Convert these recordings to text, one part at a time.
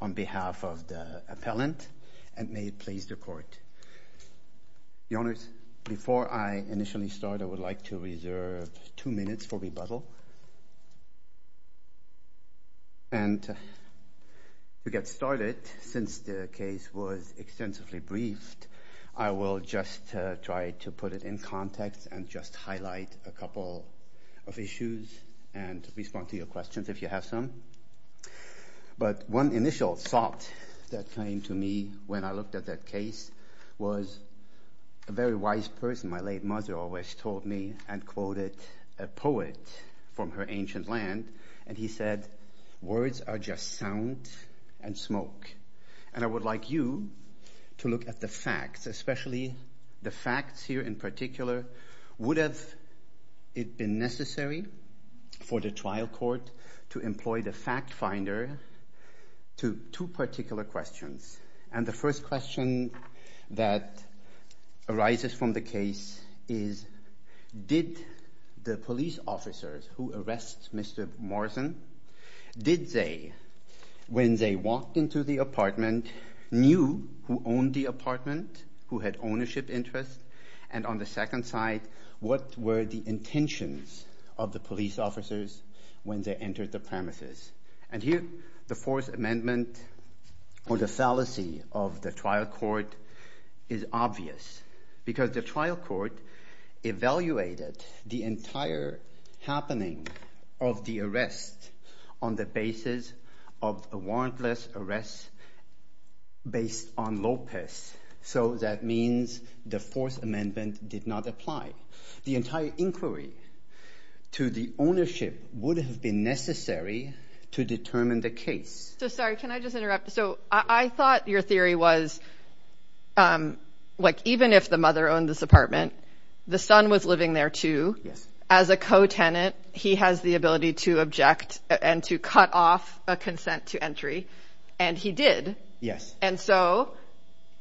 On behalf of the appellant, and may it please the Court, Your Honours, before I initially start I would like to reserve two minutes for rebuttal, and to get started, since the case was extensively briefed, I will just try to put it in context and just highlight a couple of issues and respond to your questions if you have some. But one initial thought that came to me when I looked at that case was a very wise person, my late mother always told me and quoted a poet from her ancient land, and he said, words are just sound and smoke. And I would like you to look at the facts, especially the facts here in particular would have it been necessary for the trial court to employ the fact finder to two particular questions. And the first question that arises from the case is, did the police officers who arrest Mr. Morrison, did they, when they walked into the apartment, knew who owned the apartment, who had ownership interests? And on the second side, what were the intentions of the police officers when they entered the premises? And here the Fourth Amendment or the fallacy of the trial court is obvious, because the trial court evaluated the entire happening of the arrest on the basis of a warrantless arrest based on Lopez. So that means the Fourth Amendment did not apply. The entire inquiry to the ownership would have been necessary to determine the case. So sorry, can I just interrupt? So I thought your theory was, like, even if the mother owned this apartment, the son was living there too. As a co-tenant, he has the ability to object and to cut off a consent to entry. And he did. And so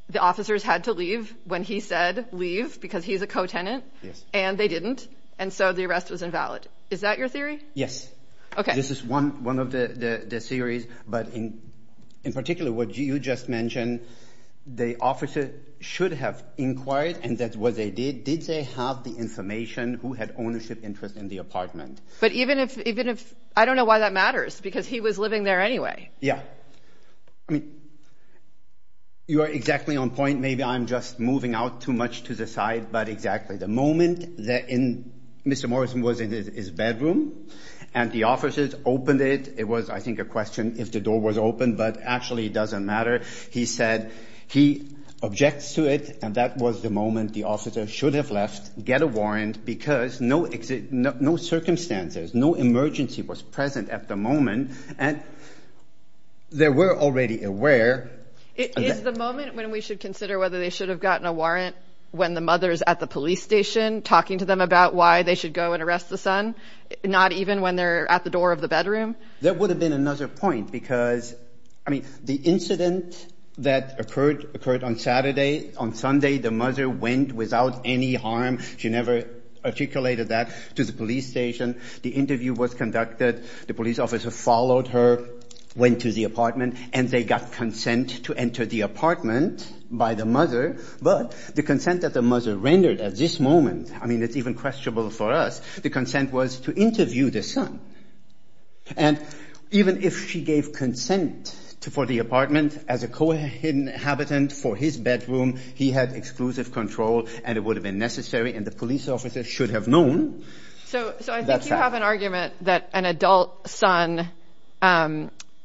the officers had to leave when he said leave, because he's a co-tenant. And they didn't. And so the arrest was invalid. Is that your theory? Yes. This is one of the theories. But in particular, what you just mentioned, the officer should have inquired, and that's what they did. Did they have the information? Who had ownership interest in the apartment? But even if, even if, I don't know why that matters, because he was living there anyway. Yeah. I mean, you are exactly on point. Maybe I'm just moving out too much to the side. But exactly. The moment that Mr. Morrison was in his bedroom and the officers opened it, it was, I think, a question if the door was open. But actually, it doesn't matter. He said he objects to it. And that was the moment the officer should have left, get a warrant because no circumstances, no emergency was present at the moment. And they were already aware. Is the moment when we should consider whether they should have gotten a warrant when the mother's at the police station talking to them about why they should go and arrest the son, not even when they're at the door of the bedroom? That would have been another point because, I mean, the incident that occurred on Saturday, on Sunday, the mother went without any harm. She never articulated that to the police station. The interview was conducted. The police officer followed her, went to the apartment, and they got consent to enter the apartment by the mother. But the consent that the mother rendered at this moment, I mean, it's even questionable for us. The consent was to interview the son. And even if she gave consent for the apartment as a co-inhabitant for his bedroom, he had exclusive control and it would have been necessary and the police officer should have known. So I think you have an argument that an adult son, that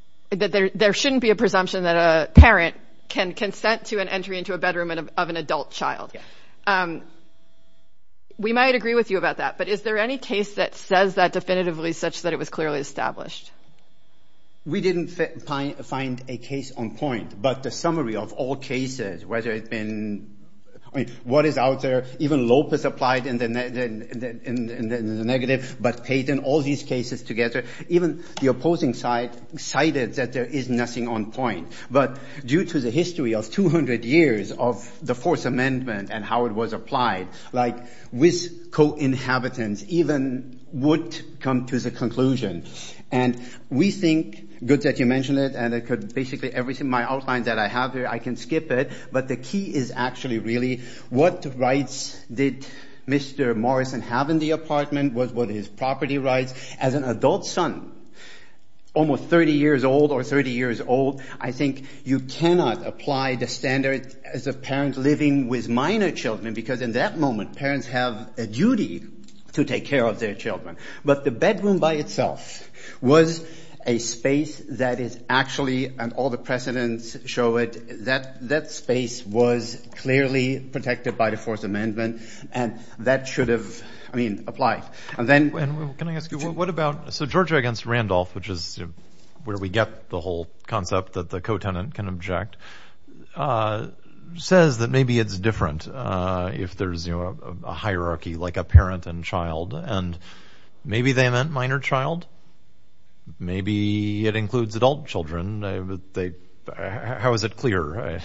there shouldn't be a presumption that a parent can consent to an entry into a bedroom of an adult child. We might agree with you about that, but is there any case that says that definitively such that it was clearly established? We didn't find a case on point, but the summary of all cases, whether it's been, I mean, what is out there, even Lopez applied in the negative, but Peyton, all these cases together, even the opposing side cited that there is nothing on point. But due to the history of 200 years of the fourth amendment and how it was applied, like with co-inhabitants, even would come to the conclusion. And we think, good that you mentioned it, and it could basically everything my outline that I have here, I can skip it. But the key is actually really what rights did Mr. Morrison have in the apartment was what his property rights. As an adult son, almost 30 years old or 30 years old, I think you cannot apply the standard as a parent living with minor children, because in that moment, parents have a duty to take care of their children. But the bedroom by itself was a space that is actually, and all the precedents show it, that that space was clearly protected by the fourth amendment. And that should have, I mean, applied. And then, can I ask you, what about, so Georgia against Randolph, which is where we get the whole concept that the co-tenant can object, says that maybe it's different if there's a hierarchy, like a parent and child, and maybe they meant minor child. Maybe it includes adult children. How is it clear?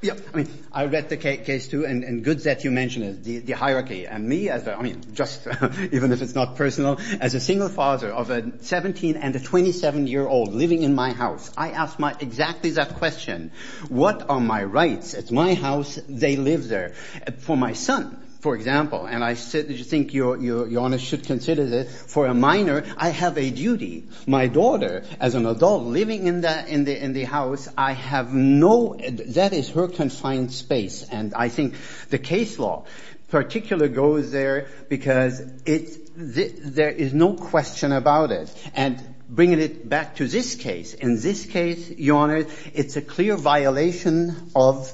Yeah, I mean, I read the case too, and good that you mentioned it, the hierarchy. And for me, I mean, just even if it's not personal, as a single father of a 17 and a 27-year-old living in my house, I ask exactly that question. What are my rights? It's my house, they live there. For my son, for example, and I think your Honour should consider this, for a minor, I have a duty. My daughter, as an adult living in the house, I have no, that is her confined space. And I think the case law in particular goes there because it's, there is no question about it. And bringing it back to this case, in this case, your Honour, it's a clear violation of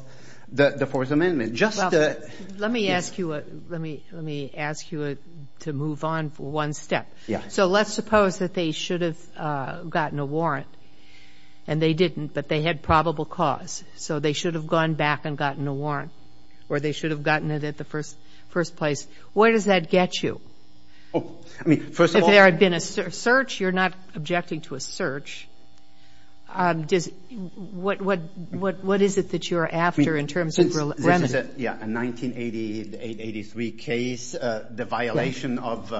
the Fourth Amendment. Just the – Well, let me ask you a, let me, let me ask you to move on for one step. Yeah. So let's suppose that they should have gotten a warrant, and they didn't, but they had a probable cause. So they should have gone back and gotten a warrant, or they should have gotten it at the first, first place. Where does that get you? Oh, I mean, first of all – If there had been a search, you're not objecting to a search. Does, what, what, what, what is it that you're after in terms of remedy? This is a, yeah, a 1980, the 883 case, the violation of,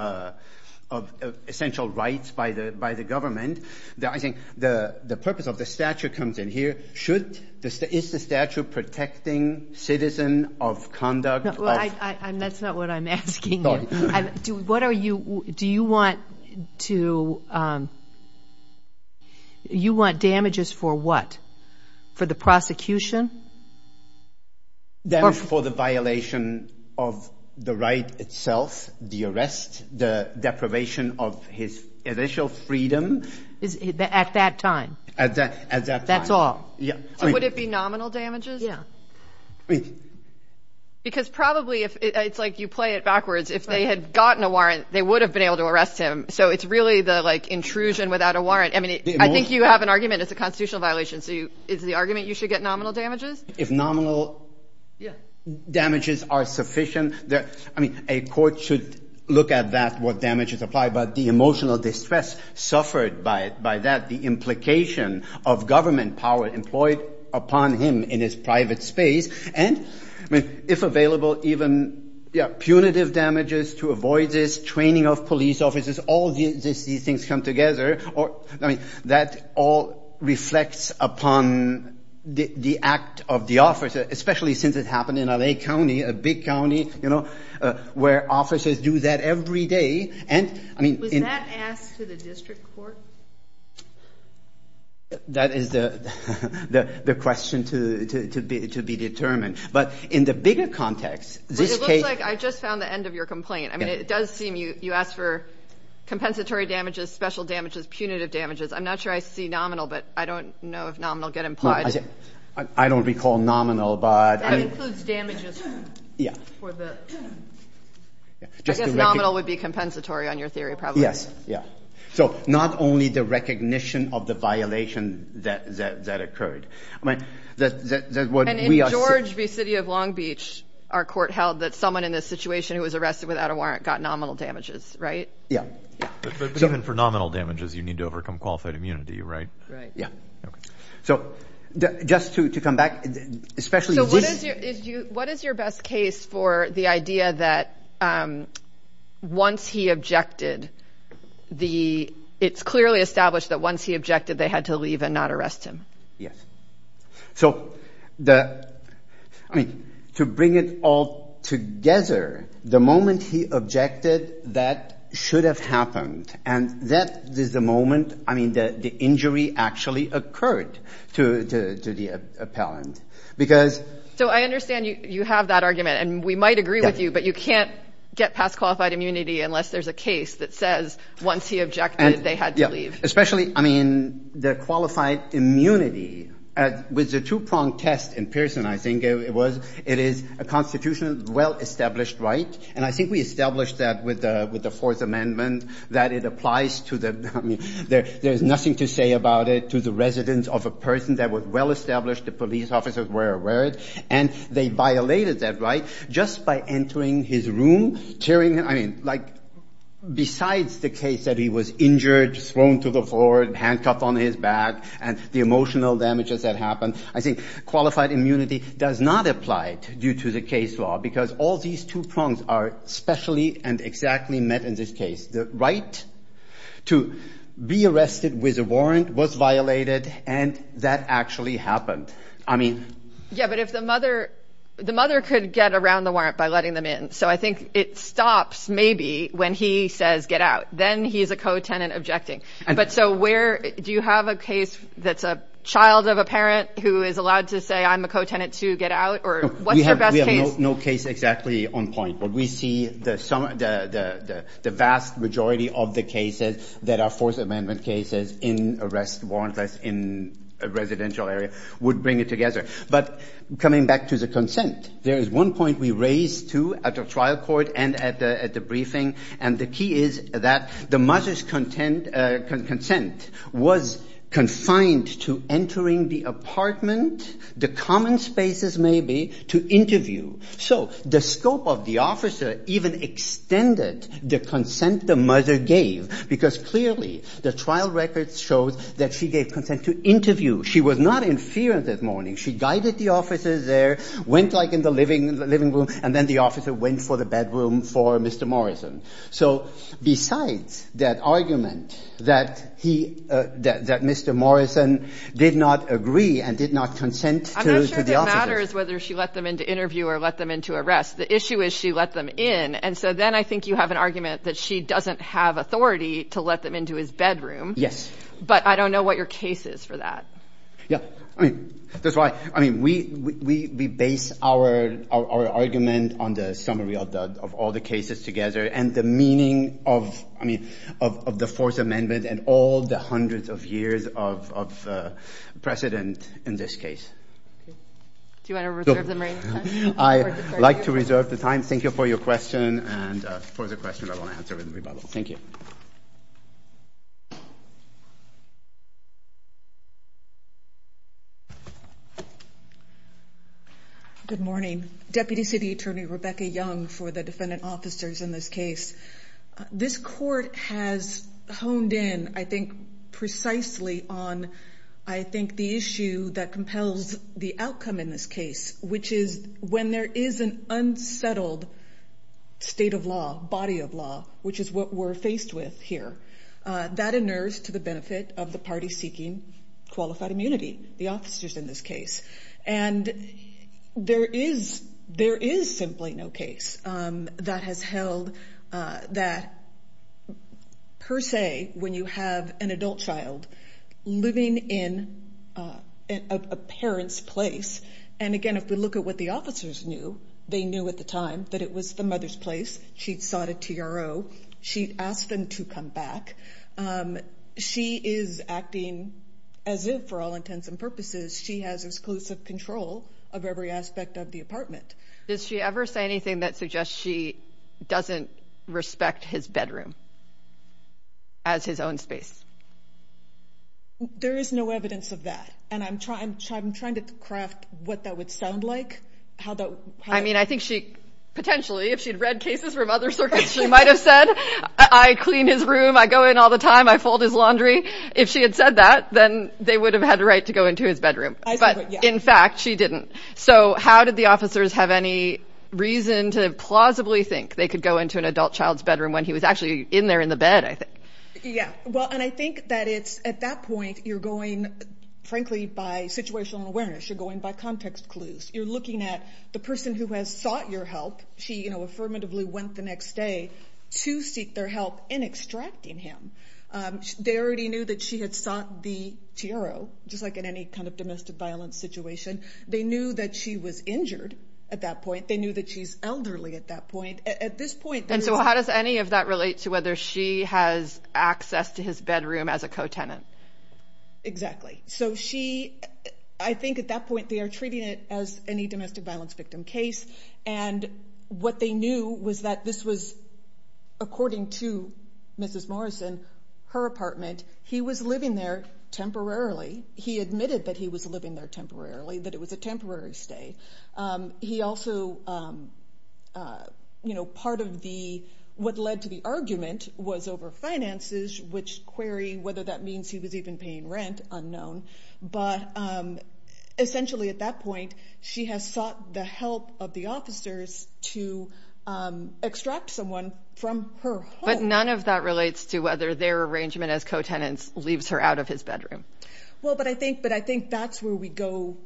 of essential rights by the, by the government. I think the, the purpose of the statute comes in here. Should the, is the statute protecting citizen of conduct of – Well, I, I, I'm, that's not what I'm asking you. Sorry. I'm, do, what are you, do you want to, you want damages for what? For the prosecution? Then for the violation of the right itself, the arrest, the deprivation of his initial freedom. Is, at that time? At that, at that time. That's all? Yeah. So would it be nominal damages? Yeah. Wait. Because probably if, it's like you play it backwards. If they had gotten a warrant, they would have been able to arrest him. So it's really the, like, intrusion without a warrant. I mean, I think you have an argument it's a constitutional violation. So you, it's the argument you should get nominal damages? If nominal damages are sufficient, there, I mean, a court should look at that, what damages apply, but the emotional distress suffered by, by that, the implication of government power employed upon him in his private space. And I mean, if available, even, yeah, punitive damages to avoid this, training of police officers, all these, these things come together or, I mean, that all reflects upon the, the act of the officer, especially since it happened in L.A. County, a big county, you know, where officers do that every day. And, I mean, in... Was that asked to the district court? That is the, the, the question to, to, to be, to be determined. But in the bigger context, this case... But it looks like I just found the end of your complaint. I mean, it does seem you, you asked for compensatory damages, special damages, punitive damages. I'm not sure I see nominal, but I don't know if nominal get implied. I don't recall nominal, but... That includes damages for the... Yeah. I guess nominal would be compensatory on your theory, probably. Yes. Yeah. So not only the recognition of the violation that, that, that occurred. I mean, that, that, that what we are... And in George v. City of Long Beach, our court held that someone in this situation who was Right? Yeah. Yeah. But even for nominal damages, you need to overcome qualified immunity, right? Right. Yeah. Okay. So just to, to come back, especially this... So what is your, is you, what is your best case for the idea that once he objected, the, it's clearly established that once he objected, they had to leave and not arrest him. Yes. So the, I mean, to bring it all together, the moment he objected, that should have happened. And that is the moment, I mean, that the injury actually occurred to, to, to the appellant because... So I understand you, you have that argument and we might agree with you, but you can't get past qualified immunity unless there's a case that says once he objected, they had to leave. Right. Especially, I mean, the qualified immunity, with the two-pronged test in Pearson, I think it was, it is a constitutionally well-established right. And I think we established that with the, with the Fourth Amendment, that it applies to the, I mean, there, there's nothing to say about it to the residents of a person that was well-established, the police officers were aware, and they violated that right just by entering his room, tearing, I mean, like, besides the case that he was injured, thrown to the floor, handcuffed on his back, and the emotional damages that happened, I think qualified immunity does not apply due to the case law, because all these two prongs are specially and exactly met in this case. The right to be arrested with a warrant was violated, and that actually happened. I mean... Yeah, but if the mother, the mother could get around the warrant by letting them in, so I think it stops, maybe, when he says, get out, then he's a co-tenant objecting. But so where, do you have a case that's a child of a parent who is allowed to say, I'm a co-tenant to get out, or what's your best case? We have no case exactly on point, but we see the vast majority of the cases that are Fourth Amendment cases in arrest warrantless in a residential area would bring it together. But coming back to the consent, there is one point we raised, too, at the trial court and at the briefing, and the key is that the mother's consent was confined to entering the apartment, the common spaces, maybe, to interview. So the scope of the officer even extended the consent the mother gave, because clearly, the trial record shows that she gave consent to interview. She was not in fear that morning. She guided the officers there, went, like, in the living room, and then the officer went for the bedroom for Mr. Morrison. So besides that argument that he, that Mr. Morrison did not agree and did not consent to the officer... I'm not sure if it matters whether she let them in to interview or let them in to arrest. The issue is she let them in, and so then I think you have an argument that she doesn't have authority to let them into his bedroom. Yes. But I don't know what your case is for that. Yeah. I mean, that's why, I mean, we base our argument on the summary of all the cases together and the meaning of, I mean, of the Fourth Amendment and all the hundreds of years of precedent in this case. Do you want to reserve the time? I'd like to reserve the time. Thank you for your question, and for the question I want to answer with the rebuttal. Thank you. Good morning. Deputy City Attorney Rebecca Young for the defendant officers in this case. This court has honed in, I think, precisely on, I think, the issue that compels the outcome in this case, which is when there is an unsettled state of law, body of law, which is what we're of the party seeking qualified immunity, the officers in this case. And there is simply no case that has held that, per se, when you have an adult child living in a parent's place, and again, if we look at what the officers knew, they knew at the time that it was the mother's place, she'd sought a TRO, she'd asked them to come back. She is acting as if, for all intents and purposes, she has exclusive control of every aspect of the apartment. Does she ever say anything that suggests she doesn't respect his bedroom as his own space? There is no evidence of that, and I'm trying to craft what that would sound like. I mean, I think she, potentially, if she'd read cases from other circuits, she might have said, I clean his room, I go in all the time, I fold his laundry. If she had said that, then they would have had a right to go into his bedroom. But in fact, she didn't. So how did the officers have any reason to plausibly think they could go into an adult child's bedroom when he was actually in there in the bed, I think? Yeah. Well, and I think that it's, at that point, you're going, frankly, by situational awareness. You're going by context clues. You're looking at the person who has sought your help, she, you know, affirmatively went the next day to seek their help in extracting him. They already knew that she had sought the T.E.R.O., just like in any kind of domestic violence situation. They knew that she was injured at that point. They knew that she's elderly at that point. At this point, they're- And so how does any of that relate to whether she has access to his bedroom as a co-tenant? Exactly. So she, I think at that point, they are treating it as any domestic violence victim case. And what they knew was that this was, according to Mrs. Morrison, her apartment. He was living there temporarily. He admitted that he was living there temporarily, that it was a temporary stay. He also, you know, part of the- what led to the argument was over finances, which query whether that means he was even paying rent, unknown. But essentially at that point, she has sought the help of the officers to extract someone from her home. But none of that relates to whether their arrangement as co-tenants leaves her out of his bedroom. Well, but I think that's where we go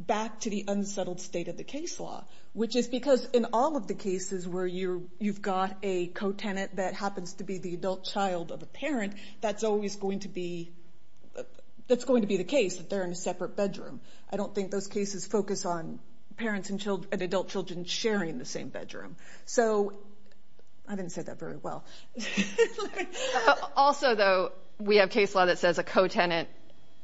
back to the unsettled state of the case law, which is because in all of the cases where you've got a co-tenant that happens to be the adult child of a parent, that's always going to be- that's going to be the case that they're in a separate bedroom. I don't think those cases focus on parents and adult children sharing the same bedroom. So I didn't say that very well. Also though, we have case law that says a co-tenant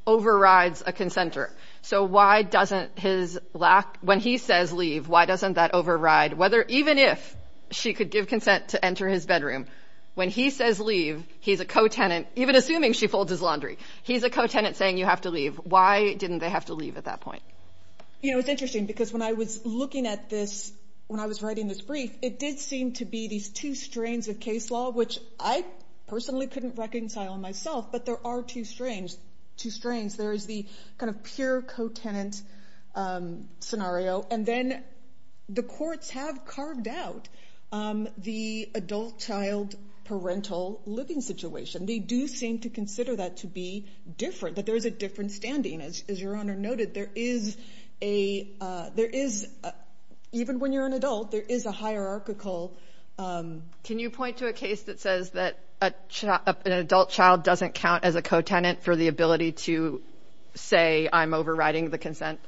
overrides a consentor. So why doesn't his lack- when he says leave, why doesn't that override whether even if she could give consent to enter his bedroom? When he says leave, he's a co-tenant, even assuming she folds his laundry, he's a co-tenant saying you have to leave. Why didn't they have to leave at that point? You know, it's interesting because when I was looking at this, when I was writing this brief, it did seem to be these two strains of case law, which I personally couldn't reconcile myself, but there are two strains. Two strains. There is the kind of pure co-tenant scenario. And then the courts have carved out the adult child parental living situation. They do seem to consider that to be different, that there's a different standing. As your Honor noted, there is a- there is- even when you're an adult, there is a hierarchical- Can you point to a case that says that an adult child doesn't count as a co-tenant for the ability to say I'm overriding the consent?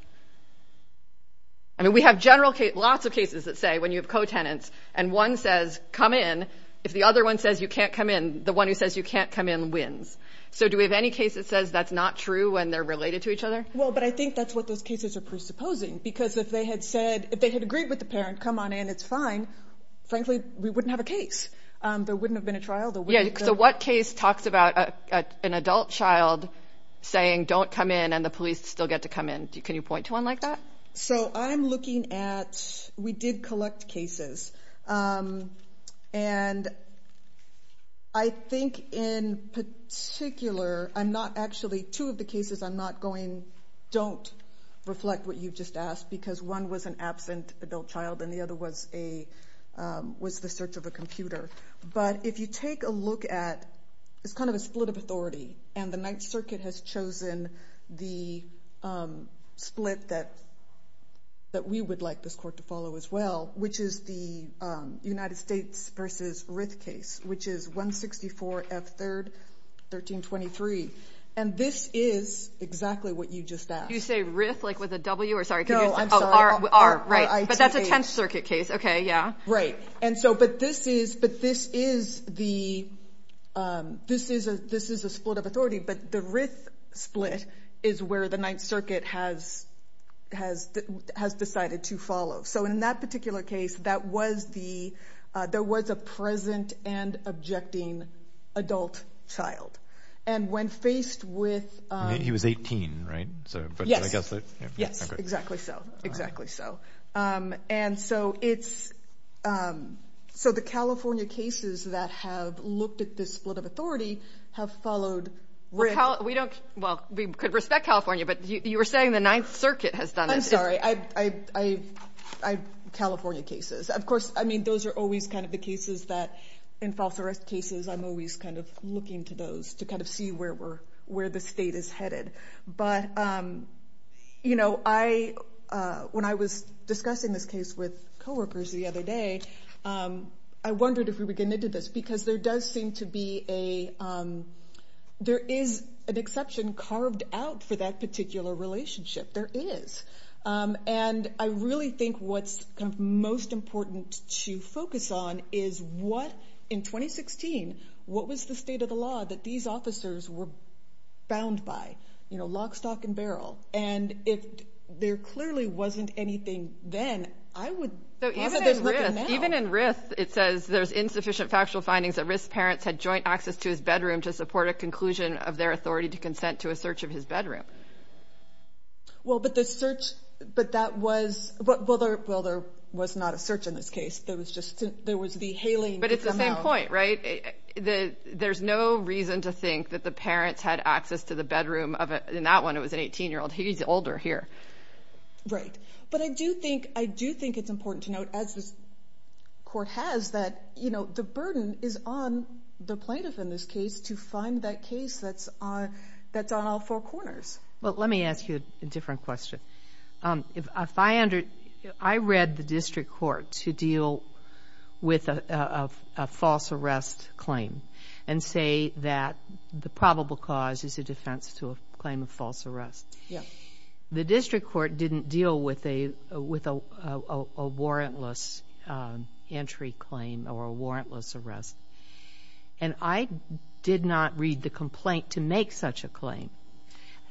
I mean, we have general case- lots of cases that say when you have co-tenants and one says come in, if the other one says you can't come in, the one who says you can't come in wins. So, do we have any case that says that's not true when they're related to each other? Well, but I think that's what those cases are presupposing because if they had said- if they had agreed with the parent, come on in, it's fine, frankly, we wouldn't have a case. There wouldn't have been a trial. There wouldn't have been- Yeah, so what case talks about an adult child saying don't come in and the police still get to come in? Can you point to one like that? So I'm looking at- we did collect cases and I think in particular, I'm not actually- two of the cases I'm not going- don't reflect what you just asked because one was an absent adult child and the other was a- was the search of a computer. But if you take a look at- it's kind of a split of authority and the Ninth Circuit has a split that we would like this court to follow as well, which is the United States v. Rith case, which is 164 F. 3rd, 1323. And this is exactly what you just asked. You say Rith like with a W or sorry- No, I'm sorry. Oh, R, right. But that's a Tenth Circuit case. Okay, yeah. Right. And so, but this is the- this is a split of authority, but the Rith split is where the has decided to follow. So in that particular case, that was the- there was a present and objecting adult child. And when faced with- He was 18, right? So, but I guess- Yes. Yes. Exactly so. Exactly so. And so it's- so the California cases that have looked at this split of authority have followed Rith. Well, we don't- well, we could respect California, but you were saying the Ninth Circuit has done it. I'm sorry. I- I- I- California cases, of course, I mean, those are always kind of the cases that in false arrest cases, I'm always kind of looking to those to kind of see where we're- where the state is headed. But you know, I- when I was discussing this case with coworkers the other day, I wondered if we were getting into this, because there does seem to be a- there is an exception carved out for that particular relationship. There is. And I really think what's most important to focus on is what- in 2016, what was the state of the law that these officers were bound by, you know, lock, stock, and barrel? And if there clearly wasn't anything then, I would- So even in Rith, it says there's insufficient factual findings that Rith's parents had joint access to his bedroom to support a conclusion of their authority to consent to a search of his bedroom. Well, but the search- but that was- well, there- well, there was not a search in this case. There was just- there was the hailing. But it's the same point, right? There's no reason to think that the parents had access to the bedroom of a- in that one, it was an 18-year-old. He's older here. Right. But I do think- I do think it's important to note, as this court has, that, you know, the burden is on the plaintiff in this case to find that case that's on- that's on all four corners. Well, let me ask you a different question. If I under- I read the district court to deal with a false arrest claim and say that the probable cause is a defense to a claim of false arrest. Yeah. The district court didn't deal with a- with a warrantless entry claim or a warrantless arrest. And I did not read the complaint to make such a claim.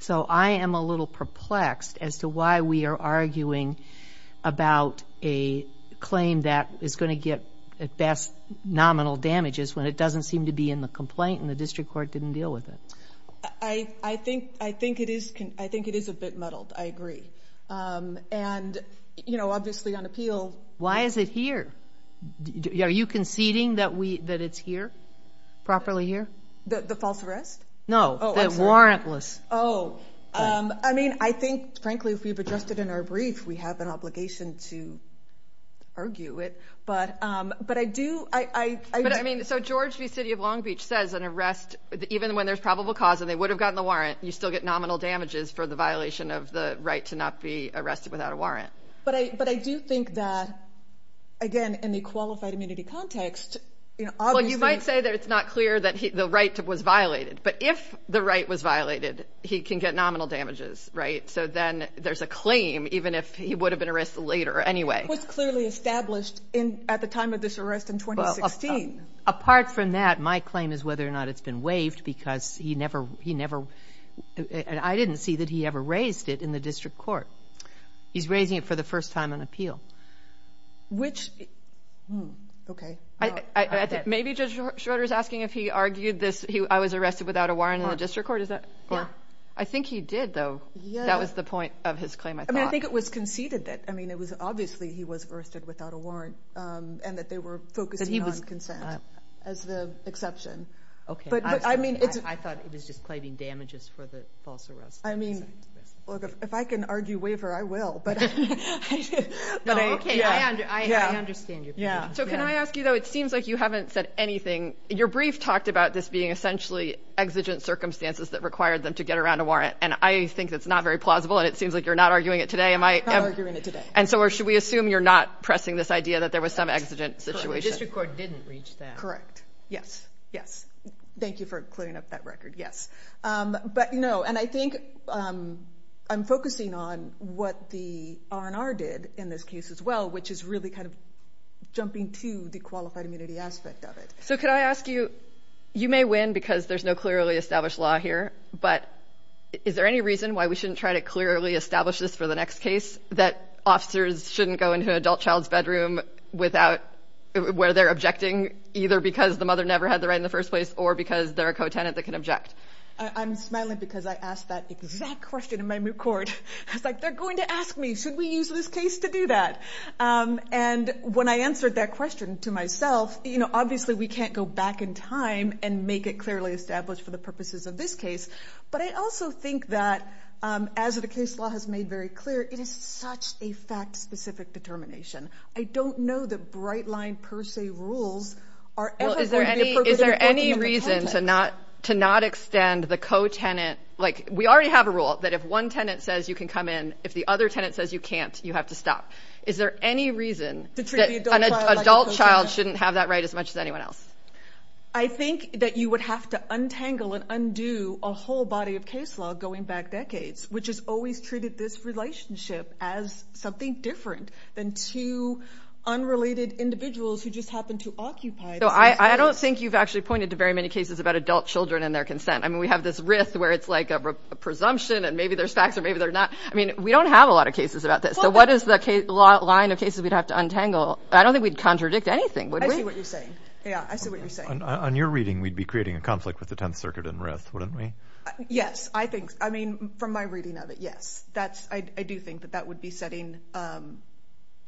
So I am a little perplexed as to why we are arguing about a claim that is going to get at best nominal damages when it doesn't seem to be in the complaint and the district court didn't deal with it. I think- I think it is- I think it is a bit muddled. I agree. And, you know, obviously on appeal- Why is it here? Are you conceding that we- that it's here? Properly here? The false arrest? No. Oh, I'm sorry. The warrantless. Oh. I mean, I think, frankly, if we've addressed it in our brief, we have an obligation to argue it. But I do- I- I- But I- but I do think that, again, in the qualified immunity context, you know, obviously- Well, you might say that it's not clear that he- the right was violated. But if the right was violated, he can get nominal damages, right? So then there's a claim, even if he would have been arrested later anyway. It was clearly established in- at the time of this arrest in 2016. Apart from that, my claim is whether or not it's been waived because he never- he never- I didn't see that he ever raised it in the district court. He's raising it for the first time on appeal. Which- hmm. Okay. I- I- I think maybe Judge Schroeder is asking if he argued this- I was arrested without a warrant in the district court. Is that- Yeah. Yeah. I think he did, though. Yeah. That was the point of his claim, I thought. I mean, I think it was conceded that- I mean, it was obviously he was arrested without a warrant. Yeah. As the exception. Okay. But I mean, it's- I thought it was just claiming damages for the false arrest. I mean, look, if I can argue waiver, I will. But I- No, okay. Yeah. Yeah. I understand your point. Yeah. So can I ask you, though? It seems like you haven't said anything. Your brief talked about this being essentially exigent circumstances that required them to get around a warrant, and I think that's not very plausible, and it seems like you're not arguing it today. Am I- I'm not arguing it today. And so, or should we assume you're not pressing this idea that there was some exigent situation? The district court didn't reach that. Correct. Yes. Yes. Thank you for clearing up that record. Yes. But no, and I think I'm focusing on what the R&R did in this case as well, which is really kind of jumping to the qualified immunity aspect of it. So could I ask you, you may win because there's no clearly established law here, but is there any reason why we shouldn't try to clearly establish this for the next case? that officers shouldn't go into an adult child's bedroom without- where they're objecting either because the mother never had the right in the first place or because they're a co-tenant that can object? I'm smiling because I asked that exact question in my moot court. I was like, they're going to ask me, should we use this case to do that? And when I answered that question to myself, you know, obviously we can't go back in time and make it clearly established for the purposes of this case. But I also think that, um, as the case law has made very clear, it is such a fact specific determination. I don't know that bright line per se rules are ever going to be appropriate in a co-tenant. Is there any reason to not, to not extend the co-tenant? Like we already have a rule that if one tenant says you can come in, if the other tenant says you can't, you have to stop. Is there any reason that an adult child shouldn't have that right as much as anyone else? I think that you would have to untangle and undo a whole body of case law going back decades, which has always treated this relationship as something different than two unrelated individuals who just happened to occupy. So I don't think you've actually pointed to very many cases about adult children and their consent. I mean, we have this rift where it's like a presumption and maybe there's facts or maybe they're not. I mean, we don't have a lot of cases about this. So what is the line of cases we'd have to untangle? I don't think we'd contradict anything, would we? I see what you're saying. Yeah, I see what you're saying. On your reading, we'd be creating a conflict with the Tenth Circuit and RIF, wouldn't we? Yes, I think. I mean, from my reading of it, yes. I do think that that would be setting,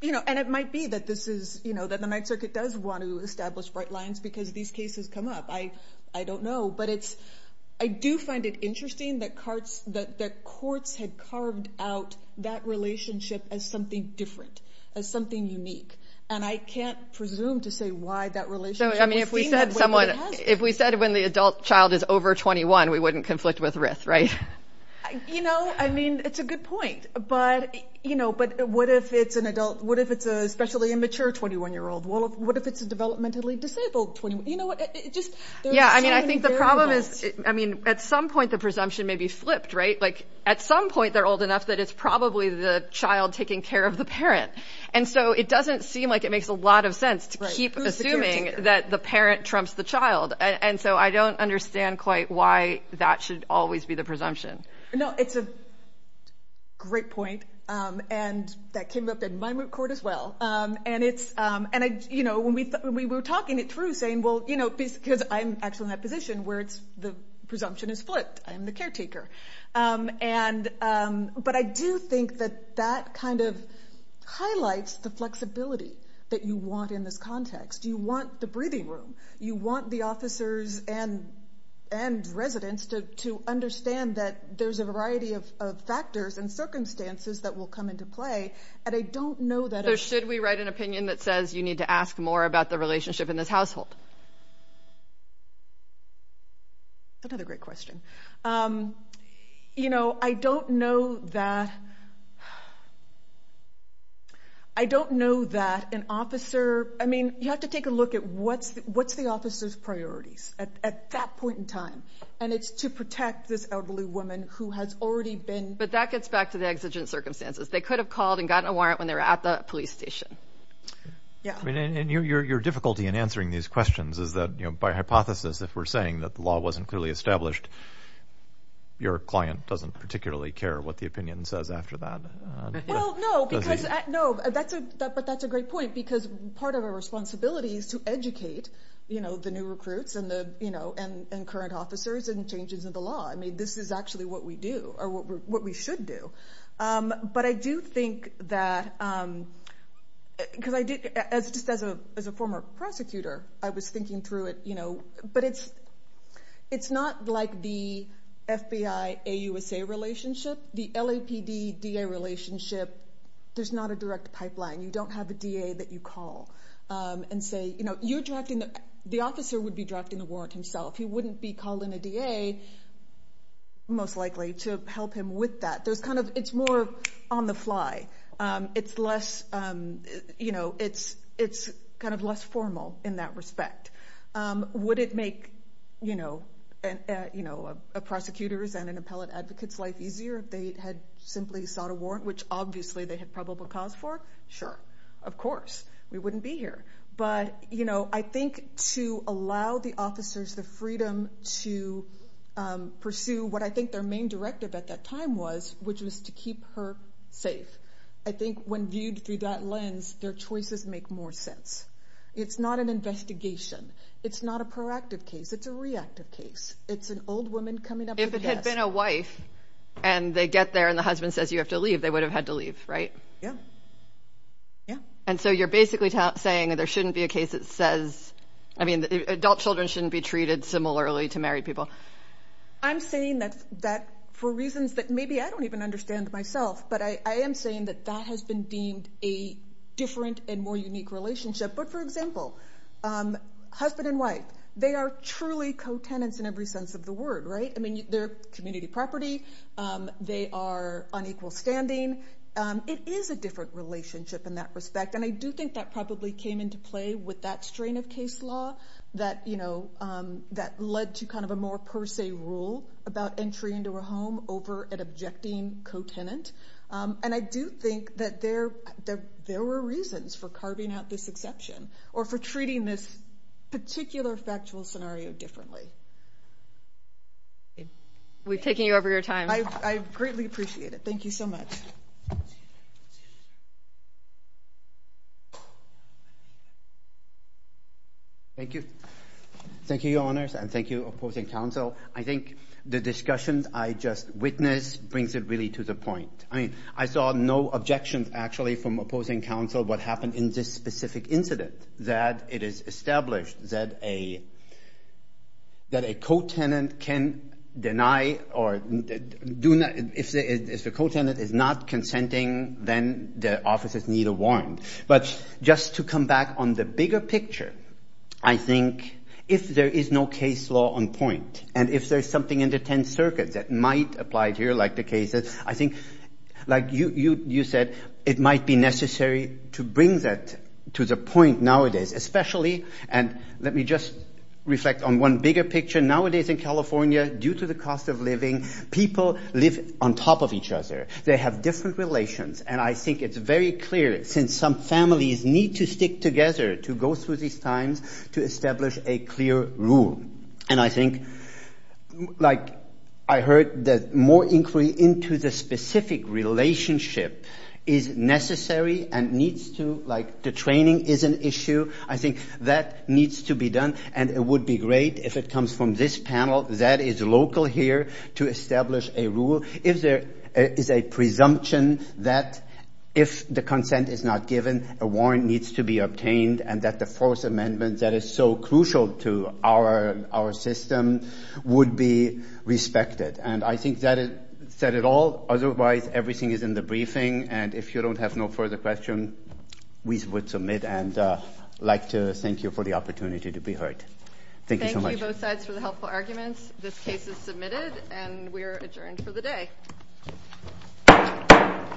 you know, and it might be that this is, you know, that the Ninth Circuit does want to establish bright lines because these cases come up. I don't know, but it's, I do find it interesting that courts had carved out that relationship as something different, as something unique. And I can't presume to say why that relationship was deemed that way, but it has been. If we said when the adult child is over 21, we wouldn't conflict with RIF, right? You know, I mean, it's a good point, but, you know, but what if it's an adult? What if it's especially a mature 21-year-old? What if it's a developmentally disabled 21-year-old? You know what? Yeah, I mean, I think the problem is, I mean, at some point the presumption may be flipped, right? Like at some point they're old enough that it's probably the child taking care of the parent. And so it doesn't seem like it makes a lot of sense to keep assuming that the parent trumps the child. And so I don't understand quite why that should always be the presumption. No, it's a great point. And that came up in my moot court as well. And it's, and I, you know, when we were talking it through saying, well, you know, because I'm actually in that position where it's the presumption is flipped, I'm the caretaker. And, but I do think that that kind of highlights the flexibility that you want in this context. You want the breathing room. You want the officers and residents to understand that there's a variety of factors and circumstances that will come into play. And I don't know that- So should we write an opinion that says you need to ask more about the relationship in this household? Another great question. You know, I don't know that, I don't know that an officer, I mean, you have to take a look at what's the officer's priorities at that point in time. And it's to protect this elderly woman who has already been- But that gets back to the exigent circumstances. They could have called and gotten a warrant when they were at the police station. Yeah. I mean, and your difficulty in answering these questions is that, you know, by hypothesis, if we're saying that the law wasn't clearly established, your client doesn't particularly care what the opinion says after that. Well, no, because, no, that's a, but that's a great point because part of our responsibility is to educate, you know, the new recruits and the, you know, and current officers and changes in the law. I mean, this is actually what we do or what we should do. But I do think that, because I did, as just as a former prosecutor, I was thinking through it, you know, but it's, it's not like the FBI-AUSA relationship, the LAPD-DA relationship, there's not a direct pipeline. You don't have a DA that you call and say, you know, you're drafting, the officer would be drafting the warrant himself. He wouldn't be calling a DA, most likely, to help him with that. There's kind of, it's more on the fly. It's less, you know, it's, it's kind of less formal in that respect. Would it make, you know, you know, a prosecutor's and an appellate advocate's life easier if they had simply sought a warrant, which obviously they had probable cause for? Sure. Of course. We wouldn't be here. But, you know, I think to allow the officers the freedom to pursue what I think their main directive at that time was, which was to keep her safe. I think when viewed through that lens, their choices make more sense. It's not an investigation. It's not a proactive case. It's a reactive case. It's an old woman coming up to the desk. If it had been a wife and they get there and the husband says, you have to leave, they would have had to leave, right? Yeah. Yeah. And so you're basically saying there shouldn't be a case that says, I mean, adult children shouldn't be treated similarly to married people. I'm saying that for reasons that maybe I don't even understand myself, but I am saying that that has been deemed a different and more unique relationship. But for example, husband and wife, they are truly co-tenants in every sense of the word, right? I mean, they're community property. They are on equal standing. It is a different relationship in that respect. And I do think that probably came into play with that strain of case law that, you know, that led to kind of a more per se rule about entry into a home over an objecting co-tenant. And I do think that there were reasons for carving out this exception or for treating this particular factual scenario differently. We've taken you over your time. I greatly appreciate it. Thank you so much. Thank you. Thank you, Your Honors, and thank you, opposing counsel. I think the discussions I just witnessed brings it really to the point. I mean, I saw no objections actually from opposing counsel what happened in this specific incident, that it is established that a co-tenant can deny or do not, if the co-tenant is not on point. But just to come back on the bigger picture, I think if there is no case law on point, and if there's something in the Tenth Circuit that might apply here, like the case that I think, like you said, it might be necessary to bring that to the point nowadays, especially and let me just reflect on one bigger picture. Nowadays in California, due to the cost of living, people live on top of each other. They have different relations. And I think it's very clear, since some families need to stick together to go through these times to establish a clear rule. And I think, like I heard that more inquiry into the specific relationship is necessary and needs to, like the training is an issue. I think that needs to be done and it would be great if it comes from this panel that is local here to establish a rule. If there is a presumption that if the consent is not given, a warrant needs to be obtained and that the Fourth Amendment that is so crucial to our system would be respected. And I think that said it all. Otherwise, everything is in the briefing. And if you don't have no further question, we would submit and like to thank you for the opportunity to be heard. Thank you so much. Thank you both sides for the helpful arguments. This case is submitted and we are adjourned for the day.